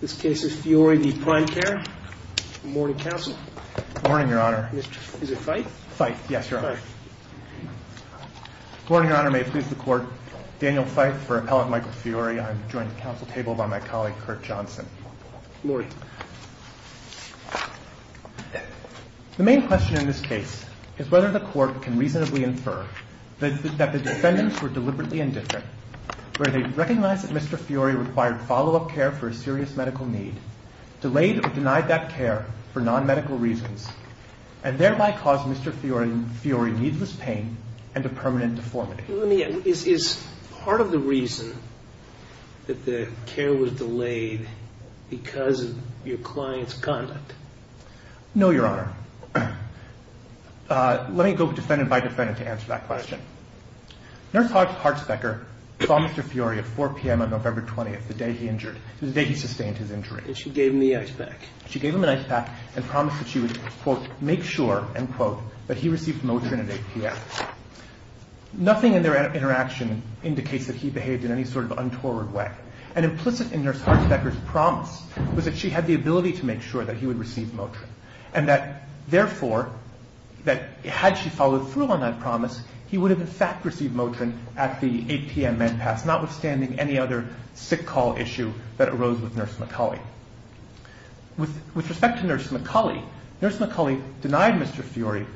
This case is Fiore v. Prime Care. Good morning, counsel. Good morning, Your Honor. Is it Fyfe? Fyfe, yes, Your Honor. Fyfe. Good morning, Your Honor. May it please the Court, Daniel Fyfe for Appellant Michael Fiore. I am joined at the counsel table by my colleague, Kurt Johnson. Good morning. The main question in this case is whether the Court can reasonably infer that the defendants were deliberately indifferent, where they recognized that Mr. Fiore required follow-up care for a serious medical need, delayed or denied that care for non-medical reasons, and thereby caused Mr. Fiore needless pain and a permanent deformity. Is part of the reason that the care was delayed because of your client's conduct? No, Your Honor. Let me go defendant by defendant to answer that question. Nurse Hartsbecker saw Mr. Fiore at 4 p.m. on November 20th, the day he sustained his injury. And she gave him the ice pack. She gave him an ice pack and promised that she would, quote, make sure, end quote, that he received Motrin at 8 p.m. Nothing in their interaction indicates that he behaved in any sort of untoward way. And implicit in Nurse Hartsbecker's promise was that she had the ability to make sure that he would receive Motrin, and that, therefore, that had she followed through on that promise, he would have, in fact, received Motrin at the 8 p.m. med pass, notwithstanding any other sick call issue that arose with Nurse McCulley. With respect to Nurse McCulley, Nurse McCulley denied Mr. Fiore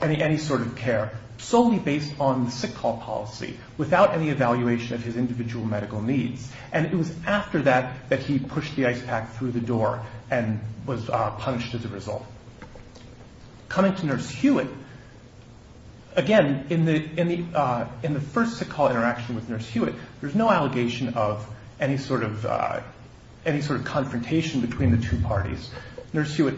any sort of care, solely based on the sick call policy, without any evaluation of his individual medical needs. And it was after that that he pushed the ice pack through the door and was punished as a result. Coming to Nurse Hewitt, again, in the first sick call interaction with Nurse Hewitt, there's no allegation of any sort of confrontation between the two parties. Nurse Hewitt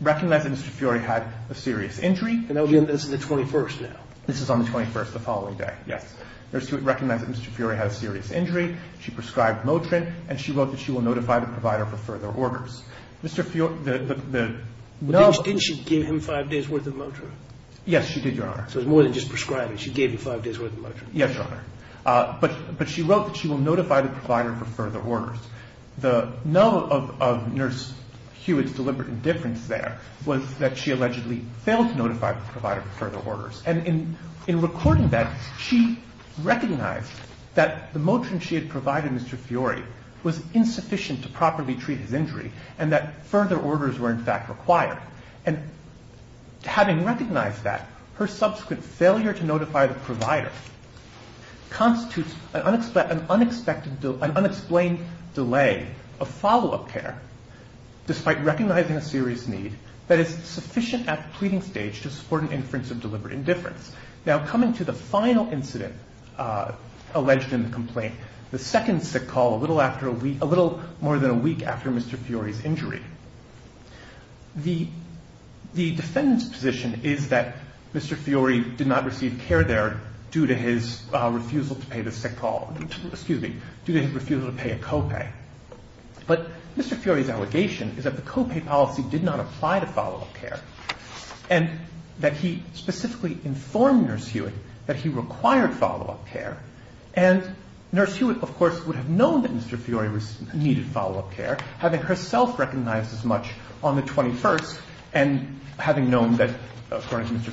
recognized that Mr. Fiore had a serious injury. And that was on the 21st now? This is on the 21st, the following day, yes. Nurse Hewitt recognized that Mr. Fiore had a serious injury. She prescribed Motrin. And she wrote that she will notify the provider for further orders. Mr. Fiore, the null- Didn't she give him five days' worth of Motrin? Yes, she did, Your Honor. So it was more than just prescribing. She gave him five days' worth of Motrin. Yes, Your Honor. But she wrote that she will notify the provider for further orders. The null of Nurse Hewitt's deliberate indifference there was that she allegedly failed to notify the provider for further orders. And in recording that, she recognized that the Motrin she had provided Mr. Fiore was insufficient to properly treat his injury and that further orders were, in fact, required. And having recognized that, her subsequent failure to notify the provider constitutes an unexplained delay of follow-up care, despite recognizing a serious need that is sufficient at the pleading stage to support an inference of deliberate indifference. Now, coming to the final incident alleged in the complaint, the second sick call a little more than a week after Mr. Fiore's injury. The defendant's position is that Mr. Fiore did not receive care there due to his refusal to pay a co-pay. But Mr. Fiore's allegation is that the co-pay policy did not apply to follow-up care. And that he specifically informed Nurse Hewitt that he required follow-up care. And Nurse Hewitt, of course, would have known that Mr. Fiore needed follow-up care, having herself recognized as much on the 21st and having known that, according to Mr.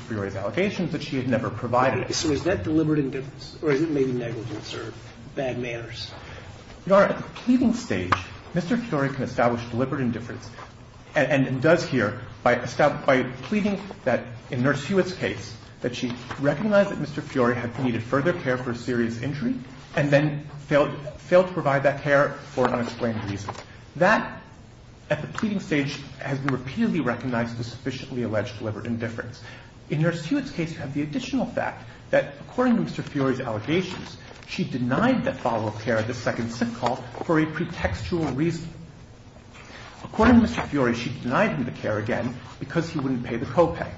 Fiore's allegations, that she had never provided it. So is that deliberate indifference or is it maybe negligence or bad manners? Your Honor, at the pleading stage, Mr. Fiore can establish deliberate indifference and does here by pleading that, in Nurse Hewitt's case, that she recognized that Mr. Fiore had needed further care for a serious injury and then failed to provide that care for an unexplained reason. That, at the pleading stage, has been repeatedly recognized as sufficiently alleged deliberate indifference. In Nurse Hewitt's case, you have the additional fact that, according to Mr. Fiore's allegations, she denied that follow-up care at the second sick call for a pretextual reason. According to Mr. Fiore, she denied him the care again because he wouldn't pay the copay.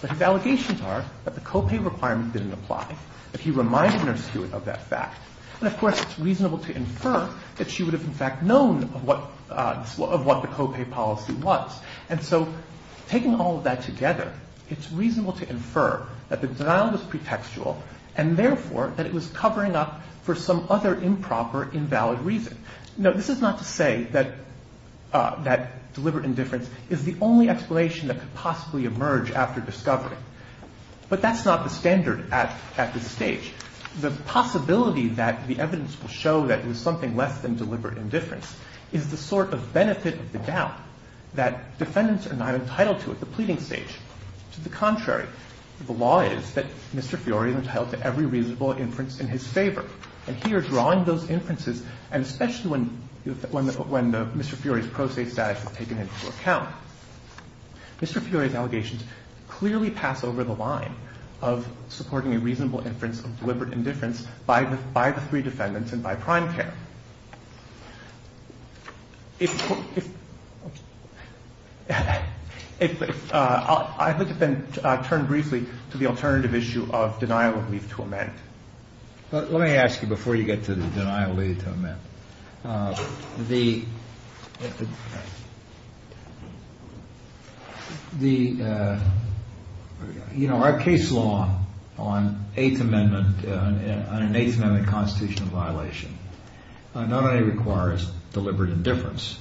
But his allegations are that the copay requirement didn't apply, that he reminded Nurse Hewitt of that fact. And, of course, it's reasonable to infer that she would have, in fact, known of what the copay policy was. And so, taking all of that together, it's reasonable to infer that the denial was pretextual and, therefore, that it was covering up for some other improper, invalid reason. Now, this is not to say that deliberate indifference is the only explanation that could possibly emerge after discovery. But that's not the standard at this stage. The possibility that the evidence will show that it was something less than deliberate indifference is the sort of benefit of the doubt that defendants are not entitled to at the pleading stage. To the contrary, the law is that Mr. Fiore is entitled to every reasonable inference in his favor. And here, drawing those inferences, and especially when Mr. Fiore's pro se status is taken into account, Mr. Fiore's allegations clearly pass over the line of supporting a reasonable inference of deliberate indifference by the three defendants and by prime care. I'd like to then turn briefly to the alternative issue of denial of leave to amend. Let me ask you before you get to the denial of leave to amend. Our case law on an Eighth Amendment constitutional violation not only requires deliberate indifference,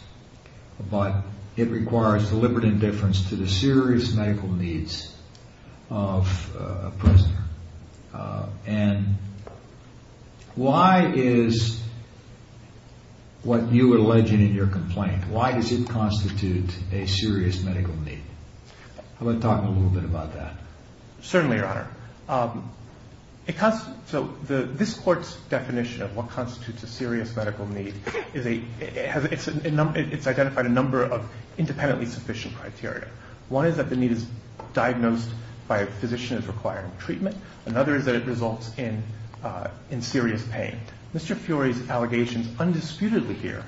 but it requires deliberate indifference to the serious medical needs of a prisoner. And why is what you are alleging in your complaint, why does it constitute a serious medical need? How about talking a little bit about that? Certainly, Your Honor. So this Court's definition of what constitutes a serious medical need, it's identified a number of independently sufficient criteria. One is that the need is diagnosed by a physician as requiring treatment. Another is that it results in serious pain. Mr. Fiore's allegations undisputedly here,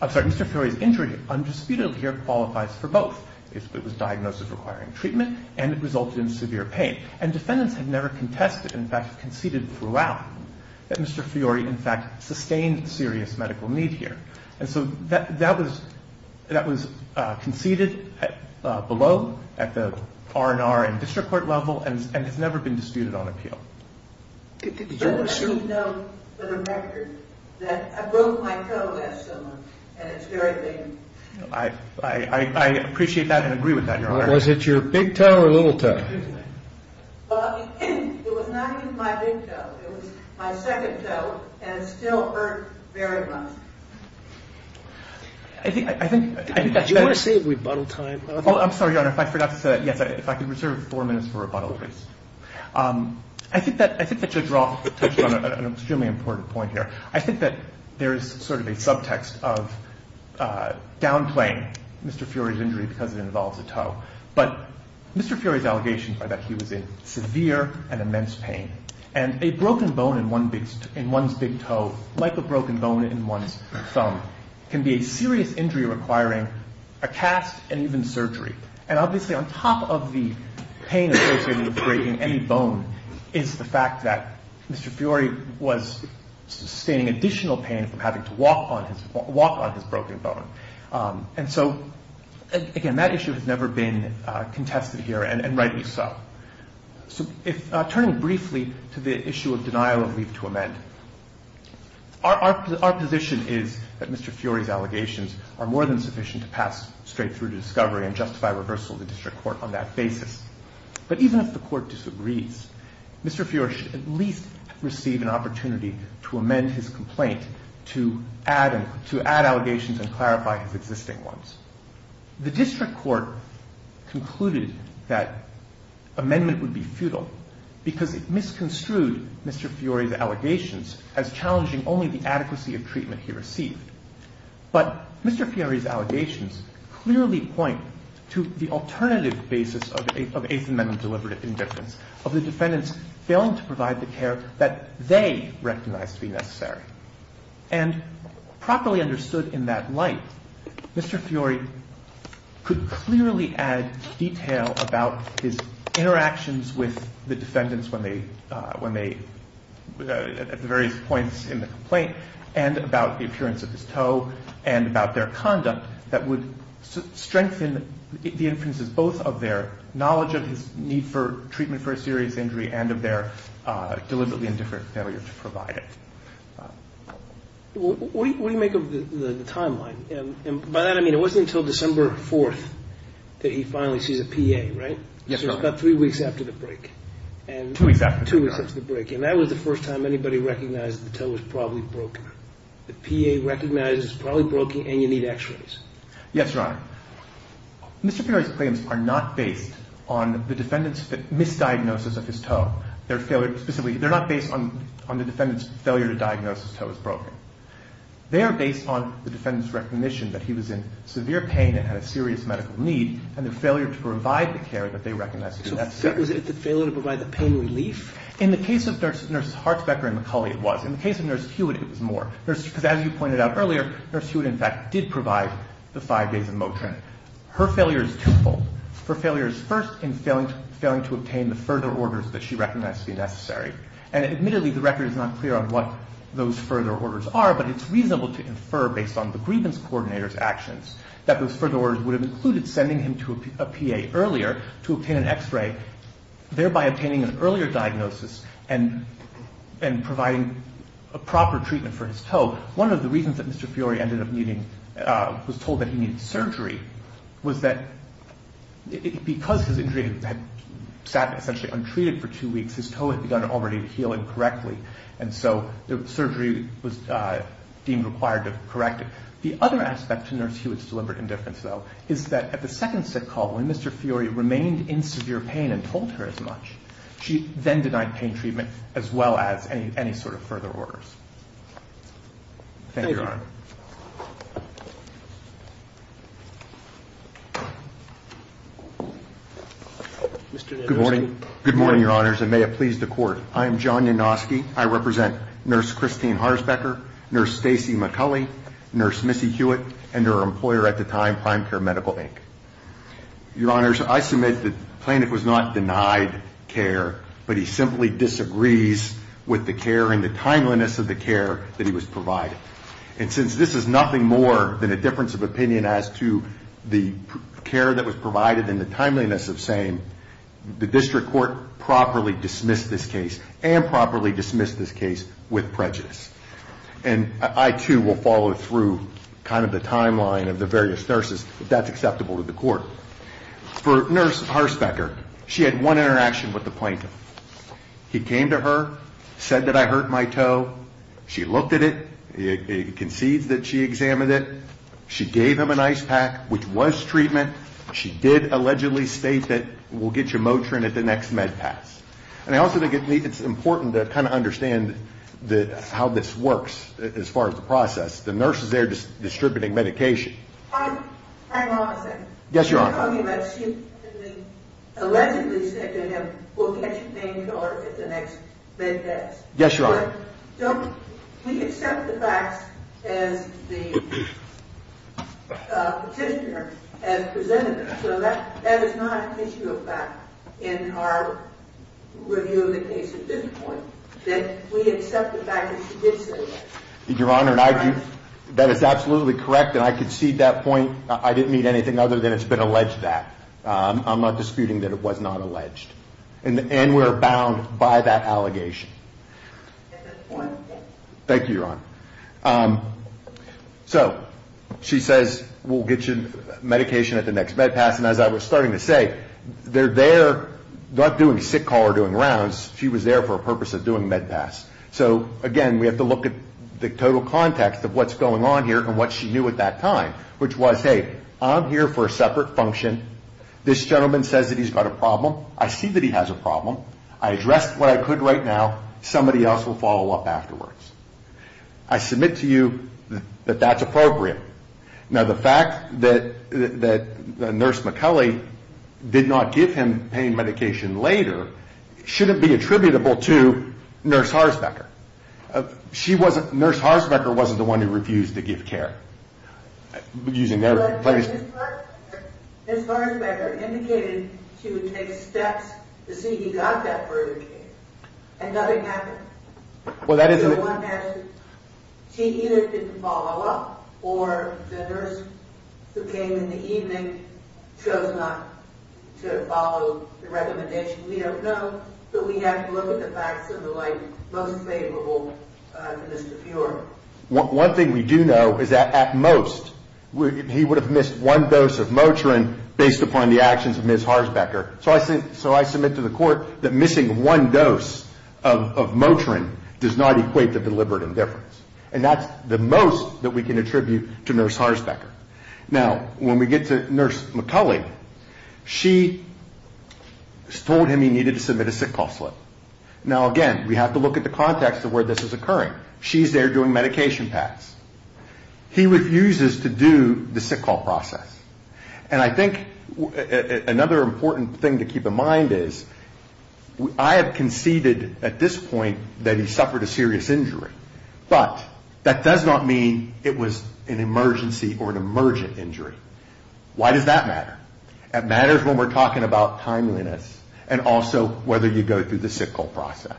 I'm sorry, Mr. Fiore's injury undisputedly here qualifies for both. It was diagnosed as requiring treatment and it resulted in severe pain. And defendants have never contested, in fact conceded throughout, that Mr. Fiore in fact sustained serious medical need here. And so that was conceded below at the R&R and district court level and has never been disputed on appeal. But I need to know for the record that I broke my toe last summer and it's very painful. I appreciate that and agree with that, Your Honor. Was it your big toe or little toe? Well, it was not even my big toe. It was my second toe and it still hurt very much. I think that you want to say rebuttal time? Oh, I'm sorry, Your Honor, if I forgot to say that. Yes, if I could reserve four minutes for rebuttal, please. I think that your draw touched on an extremely important point here. I think that there is sort of a subtext of downplaying Mr. Fiore's injury because it involves a toe. But Mr. Fiore's allegations are that he was in severe and immense pain. And a broken bone in one's big toe, like a broken bone in one's thumb, can be a serious injury requiring a cast and even surgery. And obviously on top of the pain associated with breaking any bone is the fact that Mr. Fiore was sustaining additional pain from having to walk on his broken bone. And so, again, that issue has never been contested here and rightly so. So turning briefly to the issue of denial of leave to amend, our position is that Mr. Fiore's allegations are more than sufficient to pass straight through to discovery and justify reversal of the district court on that basis. But even if the court disagrees, Mr. Fiore should at least receive an opportunity to amend his complaint to add allegations and clarify his existing ones. The district court concluded that amendment would be futile because it misconstrued Mr. Fiore's allegations as challenging only the adequacy of treatment he received. But Mr. Fiore's allegations clearly point to the alternative basis of Eighth Amendment deliberate indifference, of the defendants failing to provide the care that they recognized to be necessary. And properly understood in that light, Mr. Fiore could clearly add detail about his interactions with the defendants at the various points in the complaint and about the appearance of his toe and about their conduct that would strengthen the inferences both of their knowledge of his need for treatment for a serious injury and of their deliberate indifference failure to provide it. What do you make of the timeline? And by that I mean it wasn't until December 4th that he finally sees a PA, right? Yes, Your Honor. So it's about three weeks after the break. Two weeks after the break. Two weeks after the break. And that was the first time anybody recognized the toe was probably broken. The PA recognizes it's probably broken and you need x-rays. Yes, Your Honor. Mr. Fiore's claims are not based on the defendant's misdiagnosis of his toe. They're not based on the defendant's failure to diagnose his toe as broken. They are based on the defendant's recognition that he was in severe pain and had a serious medical need and the failure to provide the care that they recognized to be necessary. So was it the failure to provide the pain relief? In the case of Nurses Hartsbecker and McCulley, it was. In the case of Nurse Hewitt, it was more. Because as you pointed out earlier, Nurse Hewitt, in fact, did provide the five days of Motrin. Her failure is twofold. Her failure is first in failing to obtain the further orders that she recognized to be necessary. And admittedly, the record is not clear on what those further orders are, but it's reasonable to infer based on the grievance coordinator's actions that those further orders would have included sending him to a PA earlier to obtain an x-ray, thereby obtaining an earlier diagnosis and providing a proper treatment for his toe. One of the reasons that Mr. Fiore was told that he needed surgery was that because his injury had sat essentially untreated for two weeks, his toe had begun already healing correctly, and so the surgery was deemed required to correct it. The other aspect to Nurse Hewitt's deliberate indifference, though, is that at the second sick call, when Mr. Fiore remained in severe pain and told her as much, she then denied pain treatment as well as any sort of further orders. Thank you, Your Honor. Thank you. Mr. Nianoski. Good morning. Good morning, Your Honors, and may it please the Court. I am John Nianoski. I represent Nurse Christine Harzbecker, Nurse Stacey McCulley, Nurse Missy Hewitt, and her employer at the time, Prime Care Medical, Inc. Your Honors, I submit that Plaintiff was not denied care, but he simply disagrees with the care and the timeliness of the care that he was provided. And since this is nothing more than a difference of opinion as to the care that was provided and the timeliness of saying, the District Court properly dismissed this case and properly dismissed this case with prejudice. And I, too, will follow through kind of the timeline of the various nurses, if that's acceptable to the Court. For Nurse Harzbecker, she had one interaction with the Plaintiff. He came to her, said that I hurt my toe. She looked at it. It concedes that she examined it. She gave him an ice pack, which was treatment. She did allegedly state that we'll get you Motrin at the next med pass. And I also think it's important to kind of understand how this works as far as the process. The nurse is there distributing medication. Hang on a second. Yes, Your Honor. She allegedly said to him, we'll get you pain killer at the next med pass. Yes, Your Honor. We accept the facts as the petitioner has presented them. So that is not an issue of fact in our review of the case at this point, that we accept the fact that she did say that. Your Honor, that is absolutely correct, and I concede that point. I didn't mean anything other than it's been alleged that. I'm not disputing that it was not alleged. And we're bound by that allegation. At this point, yes. Thank you, Your Honor. So she says, we'll get you medication at the next med pass. And as I was starting to say, they're there not doing sick call or doing rounds. She was there for a purpose of doing med pass. So, again, we have to look at the total context of what's going on here and what she knew at that time, which was, hey, I'm here for a separate function. This gentleman says that he's got a problem. I see that he has a problem. I addressed what I could right now. Somebody else will follow up afterwards. I submit to you that that's appropriate. Now, the fact that Nurse McCulley did not give him pain medication later shouldn't be attributable to Nurse Harsbecker. Nurse Harsbecker wasn't the one who refused to give care. Using their place. But Nurse Harsbecker indicated she would take steps to see he got that further care. And nothing happened? She either didn't follow up, or the nurse who came in the evening chose not to follow the recommendation. We don't know, but we have to look at the facts in the light most favorable to Mr. Fuhrer. One thing we do know is that, at most, he would have missed one dose of Motrin based upon the actions of Ms. Harsbecker. So I submit to the court that missing one dose of Motrin does not equate to deliberate indifference. And that's the most that we can attribute to Nurse Harsbecker. Now, when we get to Nurse McCulley, she told him he needed to submit a sick call slip. Now, again, we have to look at the context of where this is occurring. She's there doing medication pass. He refuses to do the sick call process. And I think another important thing to keep in mind is, I have conceded at this point that he suffered a serious injury. But that does not mean it was an emergency or an emergent injury. Why does that matter? It matters when we're talking about timeliness, and also whether you go through the sick call process.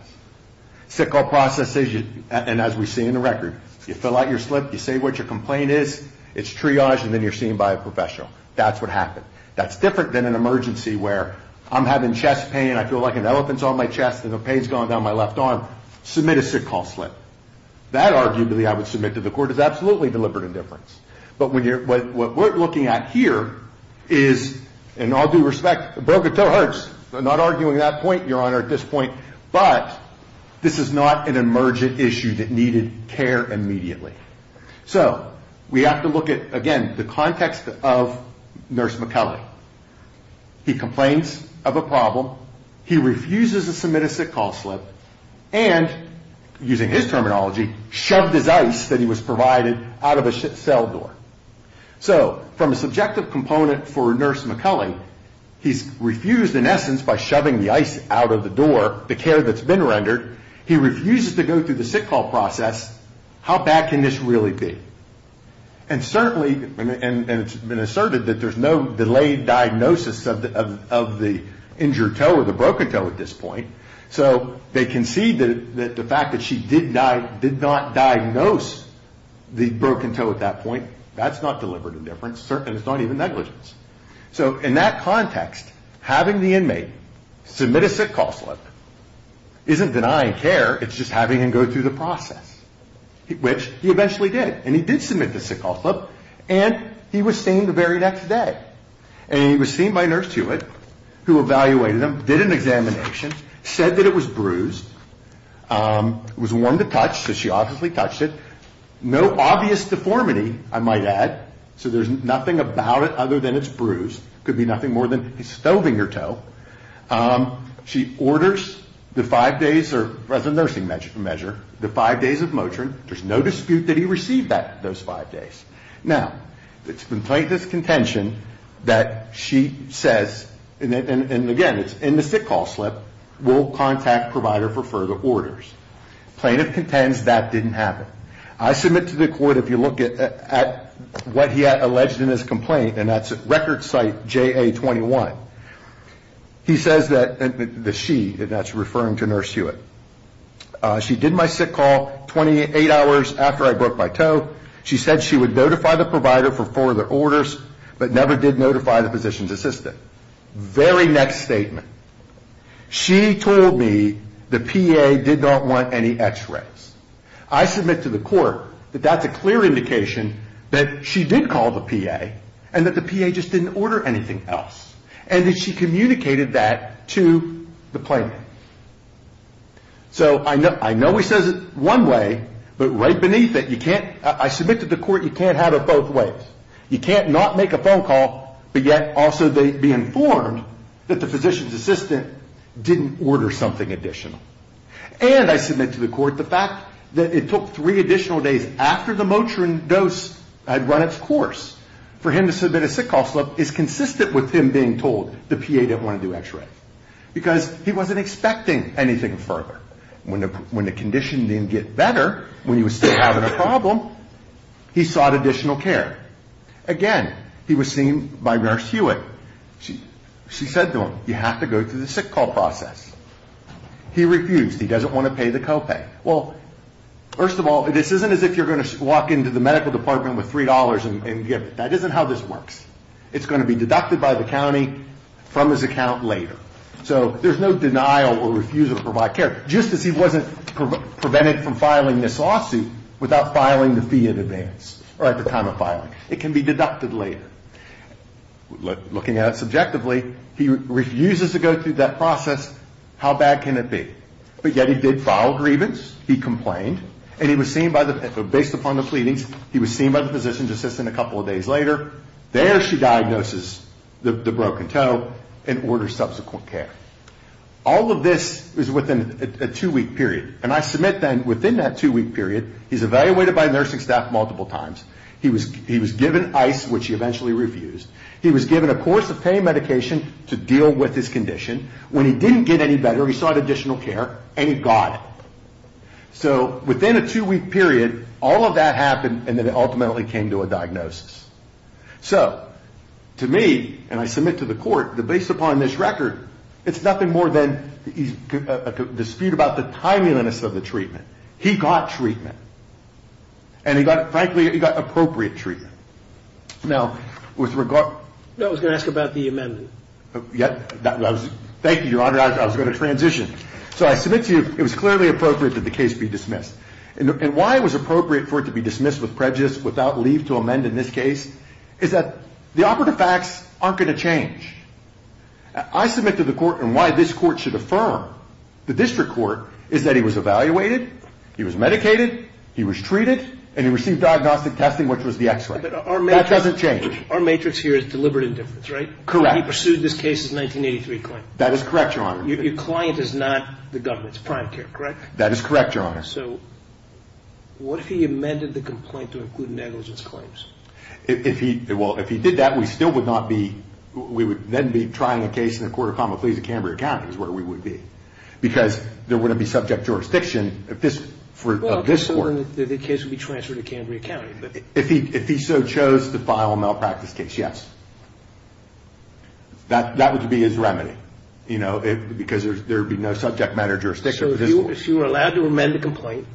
Sick call process is, and as we see in the record, you fill out your slip, you say what your complaint is, it's triaged, and then you're seen by a professional. That's what happened. That's different than an emergency where I'm having chest pain, I feel like an elephant's on my chest, and the pain's gone down my left arm. Submit a sick call slip. That, arguably, I would submit to the court as absolutely deliberate indifference. But what we're looking at here is, in all due respect, a broken toe hurts. I'm not arguing that point, Your Honor, at this point. But this is not an emergent issue that needed care immediately. So we have to look at, again, the context of Nurse McCulley. He complains of a problem, he refuses to submit a sick call slip, and, using his terminology, shoved his ice that he was provided out of a cell door. So from a subjective component for Nurse McCulley, he's refused, in essence, by shoving the ice out of the door, the care that's been rendered. He refuses to go through the sick call process. How bad can this really be? And certainly, and it's been asserted that there's no delayed diagnosis of the injured toe or the broken toe at this point. So they concede that the fact that she did not diagnose the broken toe at that point, that's not deliberate indifference, and it's not even negligence. So in that context, having the inmate submit a sick call slip isn't denying care. It's just having him go through the process, which he eventually did. And he did submit the sick call slip, and he was seen the very next day. And he was seen by Nurse Hewitt, who evaluated him, did an examination, said that it was bruised. It was warm to touch, so she obviously touched it. No obvious deformity, I might add. So there's nothing about it other than it's bruised. Could be nothing more than he's stoving her toe. She orders the five days, or as a nursing measure, the five days of Motrin. There's no dispute that he received those five days. Now, it's been plaintiff's contention that she says, and again, it's in the sick call slip, we'll contact provider for further orders. Plaintiff contends that didn't happen. I submit to the court, if you look at what he alleged in his complaint, and that's at record site JA21, he says that she, and that's referring to Nurse Hewitt, she did my sick call 28 hours after I broke my toe. She said she would notify the provider for further orders, but never did notify the physician's assistant. Very next statement. She told me the PA did not want any x-rays. I submit to the court that that's a clear indication that she did call the PA, and that the PA just didn't order anything else. And that she communicated that to the plaintiff. So I know he says it one way, but right beneath it, you can't, I submit to the court, you can't have it both ways. You can't not make a phone call, but yet also be informed that the physician's assistant didn't order something additional. And I submit to the court the fact that it took three additional days after the Motrin dose had run its course for him to submit a sick call slip is consistent with him being told the PA didn't want to do x-rays. Because he wasn't expecting anything further. When the condition didn't get better, when he was still having a problem, he sought additional care. Again, he was seen by Nurse Hewitt. She said to him, you have to go through the sick call process. He refused. He doesn't want to pay the co-pay. Well, first of all, this isn't as if you're going to walk into the medical department with $3 and give it. That isn't how this works. It's going to be deducted by the county from his account later. So there's no denial or refusal to provide care. Just as he wasn't prevented from filing this lawsuit without filing the fee in advance, or at the time of filing. It can be deducted later. Looking at it subjectively, he refuses to go through that process. How bad can it be? But yet he did file grievance. He complained. And he was seen by the, based upon the pleadings, he was seen by the physician's assistant a couple of days later. There she diagnoses the broken toe and orders subsequent care. All of this is within a two-week period. And I submit then, within that two-week period, he's evaluated by nursing staff multiple times. He was given ice, which he eventually refused. He was given a course of pain medication to deal with his condition. When he didn't get any better, he sought additional care, and he got it. So within a two-week period, all of that happened, and then it ultimately came to a diagnosis. So to me, and I submit to the court, that based upon this record, it's nothing more than a dispute about the timeliness of the treatment. He got treatment. And he got, frankly, he got appropriate treatment. Now, with regard. I was going to ask about the amendment. Thank you, Your Honor. I was going to transition. So I submit to you, it was clearly appropriate that the case be dismissed. And why it was appropriate for it to be dismissed with prejudice without leave to amend in this case is that the operative facts aren't going to change. I submit to the court, and why this court should affirm, the district court, is that he was evaluated, he was medicated, he was treated, and he received diagnostic testing, which was the X-ray. That doesn't change. Our matrix here is deliberate indifference, right? Correct. He pursued this case's 1983 claim. That is correct, Your Honor. Your client is not the government. It's prime care, correct? That is correct, Your Honor. So what if he amended the complaint to include negligence claims? Well, if he did that, we still would not be, we would then be trying a case in the court of common pleas at Cambria County, which is where we would be, because there wouldn't be subject jurisdiction of this court. Well, the case would be transferred to Cambria County. If he so chose to file a malpractice case, yes. That would be his remedy, you know, because there would be no subject matter jurisdiction for this court. So if you were allowed to amend the complaint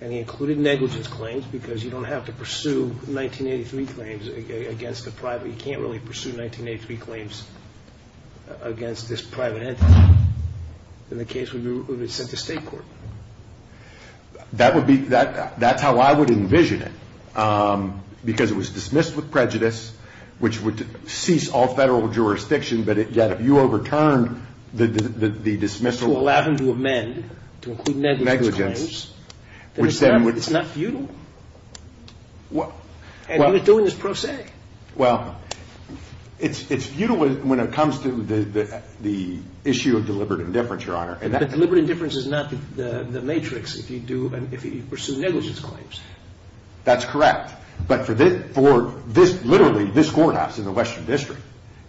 and he included negligence claims because you don't have to pursue 1983 claims against the private, you can't really pursue 1983 claims against this private entity, then the case would be sent to state court. That would be, that's how I would envision it, because it was dismissed with prejudice, which would cease all federal jurisdiction, but yet if you overturned the dismissal. To allow him to amend, to include negligence claims. Negligence. It's not futile. And he was doing this pro se. Well, it's futile when it comes to the issue of deliberate indifference, Your Honor. But deliberate indifference is not the matrix if you pursue negligence claims. That's correct. But for literally this courthouse in the Western District,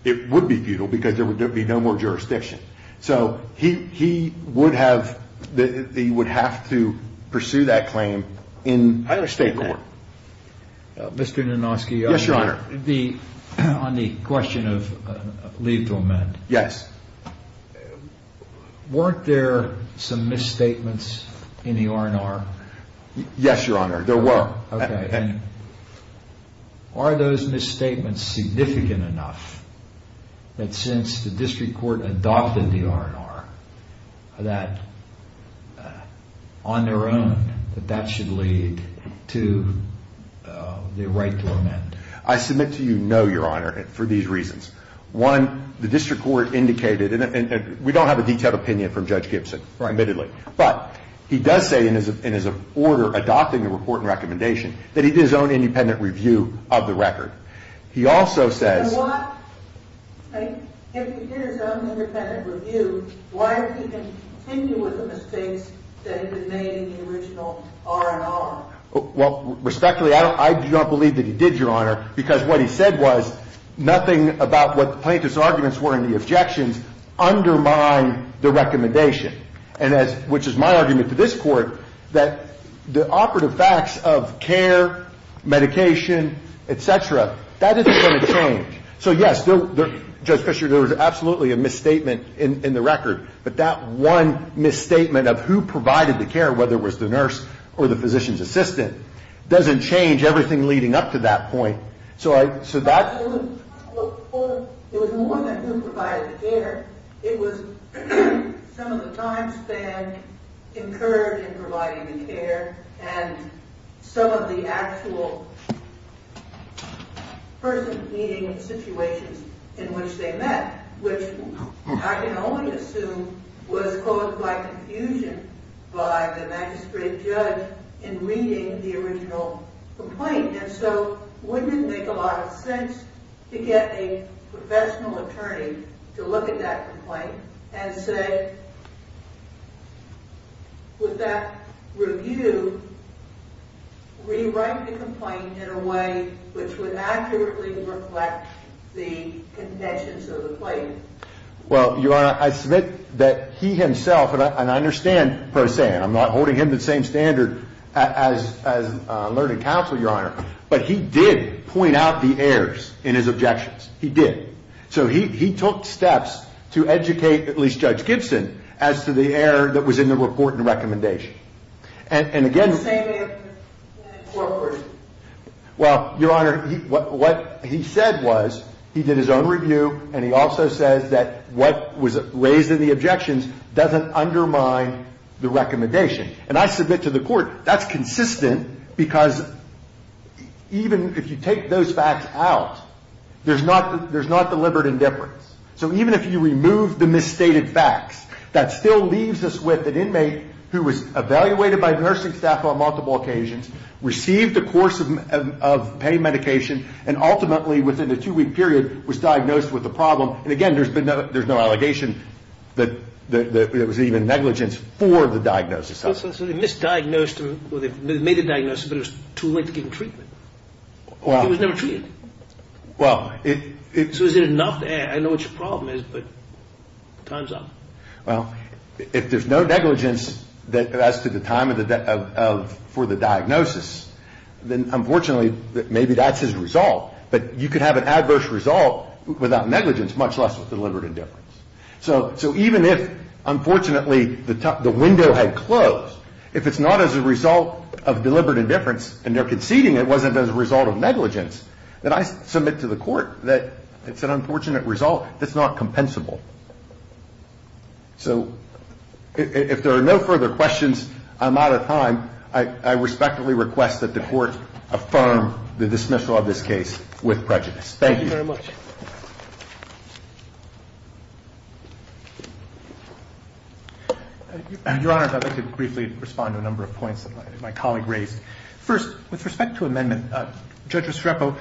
it would be futile because there would be no more jurisdiction. So he would have to pursue that claim in state court. Mr. Nanoski. Yes, Your Honor. On the question of leave to amend. Yes. Weren't there some misstatements in the R&R? Yes, Your Honor. There were. Okay. And are those misstatements significant enough that since the district court adopted the R&R, that on their own that that should lead to the right to amend? I submit to you no, Your Honor, for these reasons. One, the district court indicated, and we don't have a detailed opinion from Judge Gibson. Right. Admittedly. But he does say in his order adopting the report and recommendation that he did his own independent review of the record. He also says. If he did his own independent review, why didn't he continue with the mistakes that had been made in the original R&R? Well, respectfully, I do not believe that he did, Your Honor, because what he said was nothing about what the plaintiff's arguments were and the objections undermine the recommendation, which is my argument to this court that the operative facts of care, medication, et cetera, that isn't going to change. So, yes, Judge Fischer, there was absolutely a misstatement in the record, but that one misstatement of who provided the care, whether it was the nurse or the physician's assistant, doesn't change everything leading up to that point. So that. Absolutely. It was more than who provided the care. It was some of the time span incurred in providing the care and some of the actual person meeting situations in which they met, which I can only assume was caused by confusion by the magistrate judge in reading the original complaint. And so wouldn't it make a lot of sense to get a professional attorney to look at that complaint and say, would that review rewrite the complaint in a way which would accurately reflect the contentions of the plaintiff? Well, Your Honor, I submit that he himself, and I understand Pro Se, and I'm not holding him to the same standard as learning counsel, Your Honor, but he did point out the errors in his objections. He did. So he took steps to educate, at least Judge Gibson, as to the error that was in the report and recommendation. And again... The same in the court version. Well, Your Honor, what he said was he did his own review and he also says that what was raised in the objections doesn't undermine the recommendation. And I submit to the court that's consistent because even if you take those facts out, there's not deliberate indifference. So even if you remove the misstated facts, that still leaves us with an inmate who was evaluated by a nursing staff on multiple occasions, received a course of pain medication, and ultimately within a two-week period was diagnosed with the problem. And again, there's no allegation that there was even negligence for the diagnosis. So they misdiagnosed him, or they made a diagnosis, but it was too late to give him treatment. He was never treated. So is it enough? I know what your problem is, but time's up. Well, if there's no negligence as to the time for the diagnosis, then unfortunately maybe that's his result. But you could have an adverse result without negligence, much less with deliberate indifference. So even if, unfortunately, the window had closed, if it's not as a result of deliberate indifference and they're conceding it wasn't as a result of negligence, then I submit to the court that it's an unfortunate result that's not compensable. So if there are no further questions, I'm out of time. I respectfully request that the court affirm the dismissal of this case with prejudice. Thank you. Thank you very much. Your Honor, if I could briefly respond to a number of points that my colleague raised. First, with respect to amendment, Judge Restrepo,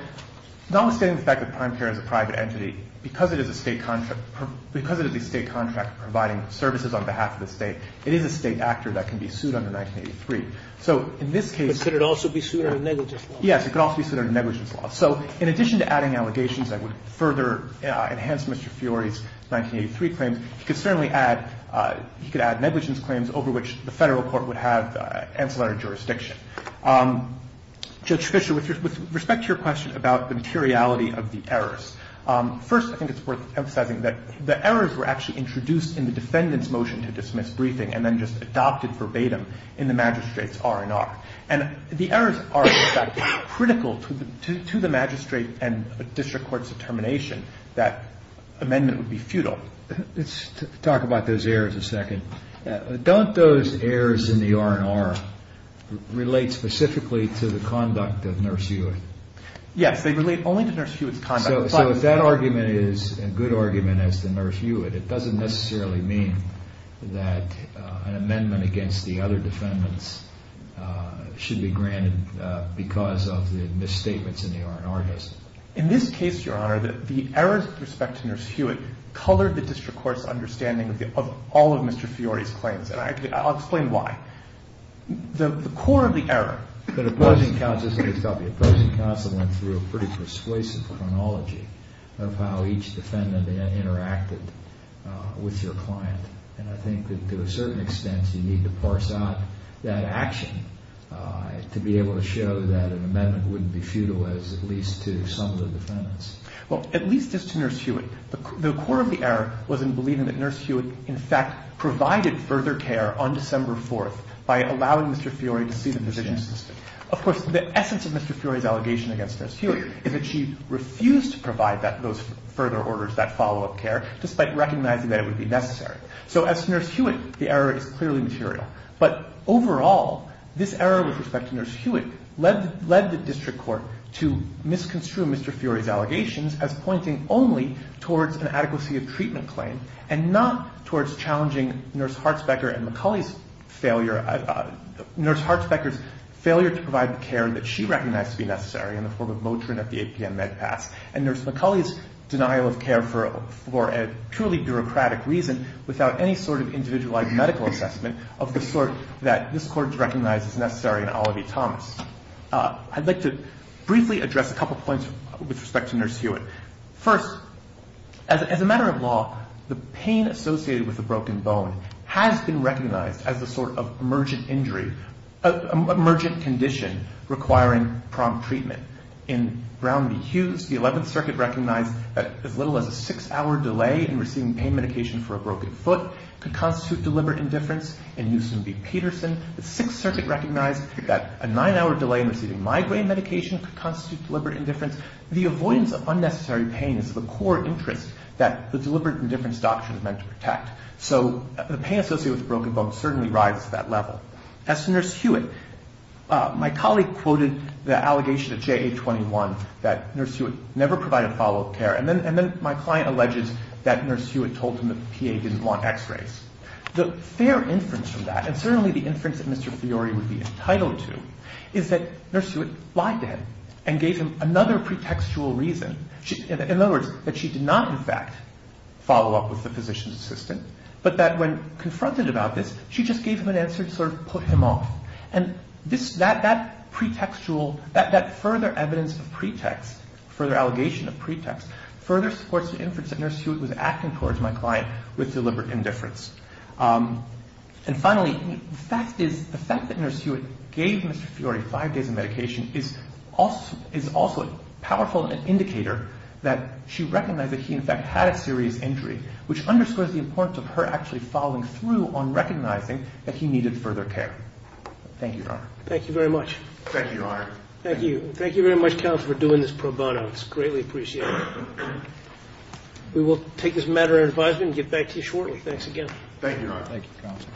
notwithstanding the fact that Prime Care is a private entity, because it is a state contract providing services on behalf of the state, it is a state actor that can be sued under 1983. But could it also be sued under negligence law? Yes, it could also be sued under negligence law. So in addition to adding allegations that would further enhance Mr. Fiori's 1983 claims, he could certainly add negligence claims over which the federal court would have ancillary jurisdiction. Judge Fischer, with respect to your question about the materiality of the errors, first I think it's worth emphasizing that the errors were actually introduced in the defendant's motion to dismiss briefing and then just adopted verbatim in the magistrate's R&R. And the errors are, in fact, critical to the magistrate and district court's determination that amendment would be futile. So let's talk about those errors a second. Don't those errors in the R&R relate specifically to the conduct of Nurse Hewitt? Yes, they relate only to Nurse Hewitt's conduct. So if that argument is a good argument as to Nurse Hewitt, it doesn't necessarily mean that an amendment against the other defendants should be granted because of the misstatements in the R&R, does it? In this case, Your Honor, the errors with respect to Nurse Hewitt colored the district court's understanding of all of Mr. Fiori's claims. And I'll explain why. The core of the error that opposing counsel went through a pretty persuasive chronology of how each defendant interacted with your client. And I think that to a certain extent you need to parse out that action to be able to show that an amendment wouldn't be futile was at least to some of the defendants. Well, at least as to Nurse Hewitt. The core of the error was in believing that Nurse Hewitt, in fact, provided further care on December 4th by allowing Mr. Fiori to see the physician's assistant. Of course, the essence of Mr. Fiori's allegation against Nurse Hewitt is that she refused to provide those further orders, that follow-up care, despite recognizing that it would be necessary. So as to Nurse Hewitt, the error is clearly material. But overall, this error with respect to Nurse Hewitt led the district court to misconstrue Mr. Fiori's allegations as pointing only towards an adequacy of treatment claim and not towards challenging Nurse Hartsbecker's failure to provide the care that she recognized to be necessary in the form of Motrin at the 8 p.m. Med Pass and Nurse McCulley's denial of care for a purely bureaucratic reason without any sort of individualized medical assessment of the sort that this Court recognized as necessary in Olivey-Thomas. I'd like to briefly address a couple of points with respect to Nurse Hewitt. First, as a matter of law, the pain associated with a broken bone has been recognized as a sort of emergent injury, an emergent condition requiring prompt treatment. In Brown v. Hughes, the 11th Circuit recognized that as little as a six-hour delay in receiving pain medication for a broken foot could constitute deliberate indifference. In Newsom v. Peterson, the 6th Circuit recognized that a nine-hour delay in receiving migraine medication could constitute deliberate indifference. The avoidance of unnecessary pain is of a core interest that the deliberate indifference doctrine is meant to protect. So the pain associated with a broken bone certainly rises to that level. As to Nurse Hewitt, my colleague quoted the allegation at JA-21 that Nurse Hewitt never provided follow-up care, and then my client alleges that Nurse Hewitt told him that the PA didn't want x-rays. The fair inference from that, and certainly the inference that Mr. Fiori would be entitled to, is that Nurse Hewitt lied to him and gave him another pretextual reason. In other words, that she did not, in fact, follow up with the physician's assistant, but that when confronted about this, she just gave him an answer to sort of put him off. And that pretextual, that further evidence of pretext, further allegation of pretext, further supports the inference that Nurse Hewitt was acting towards my client with deliberate indifference. And finally, the fact that Nurse Hewitt gave Mr. Fiori five days of medication is also a powerful indicator that she recognized that he, in fact, had a serious injury, which underscores the importance of her actually following through on recognizing that he needed further care. Thank you, Your Honor. Thank you very much. Thank you, Your Honor. Thank you. Thank you very much, counsel, for doing this pro bono. It's greatly appreciated. We will take this matter under advisement and get back to you shortly. Thanks again. Thank you, Your Honor. Thank you, counsel.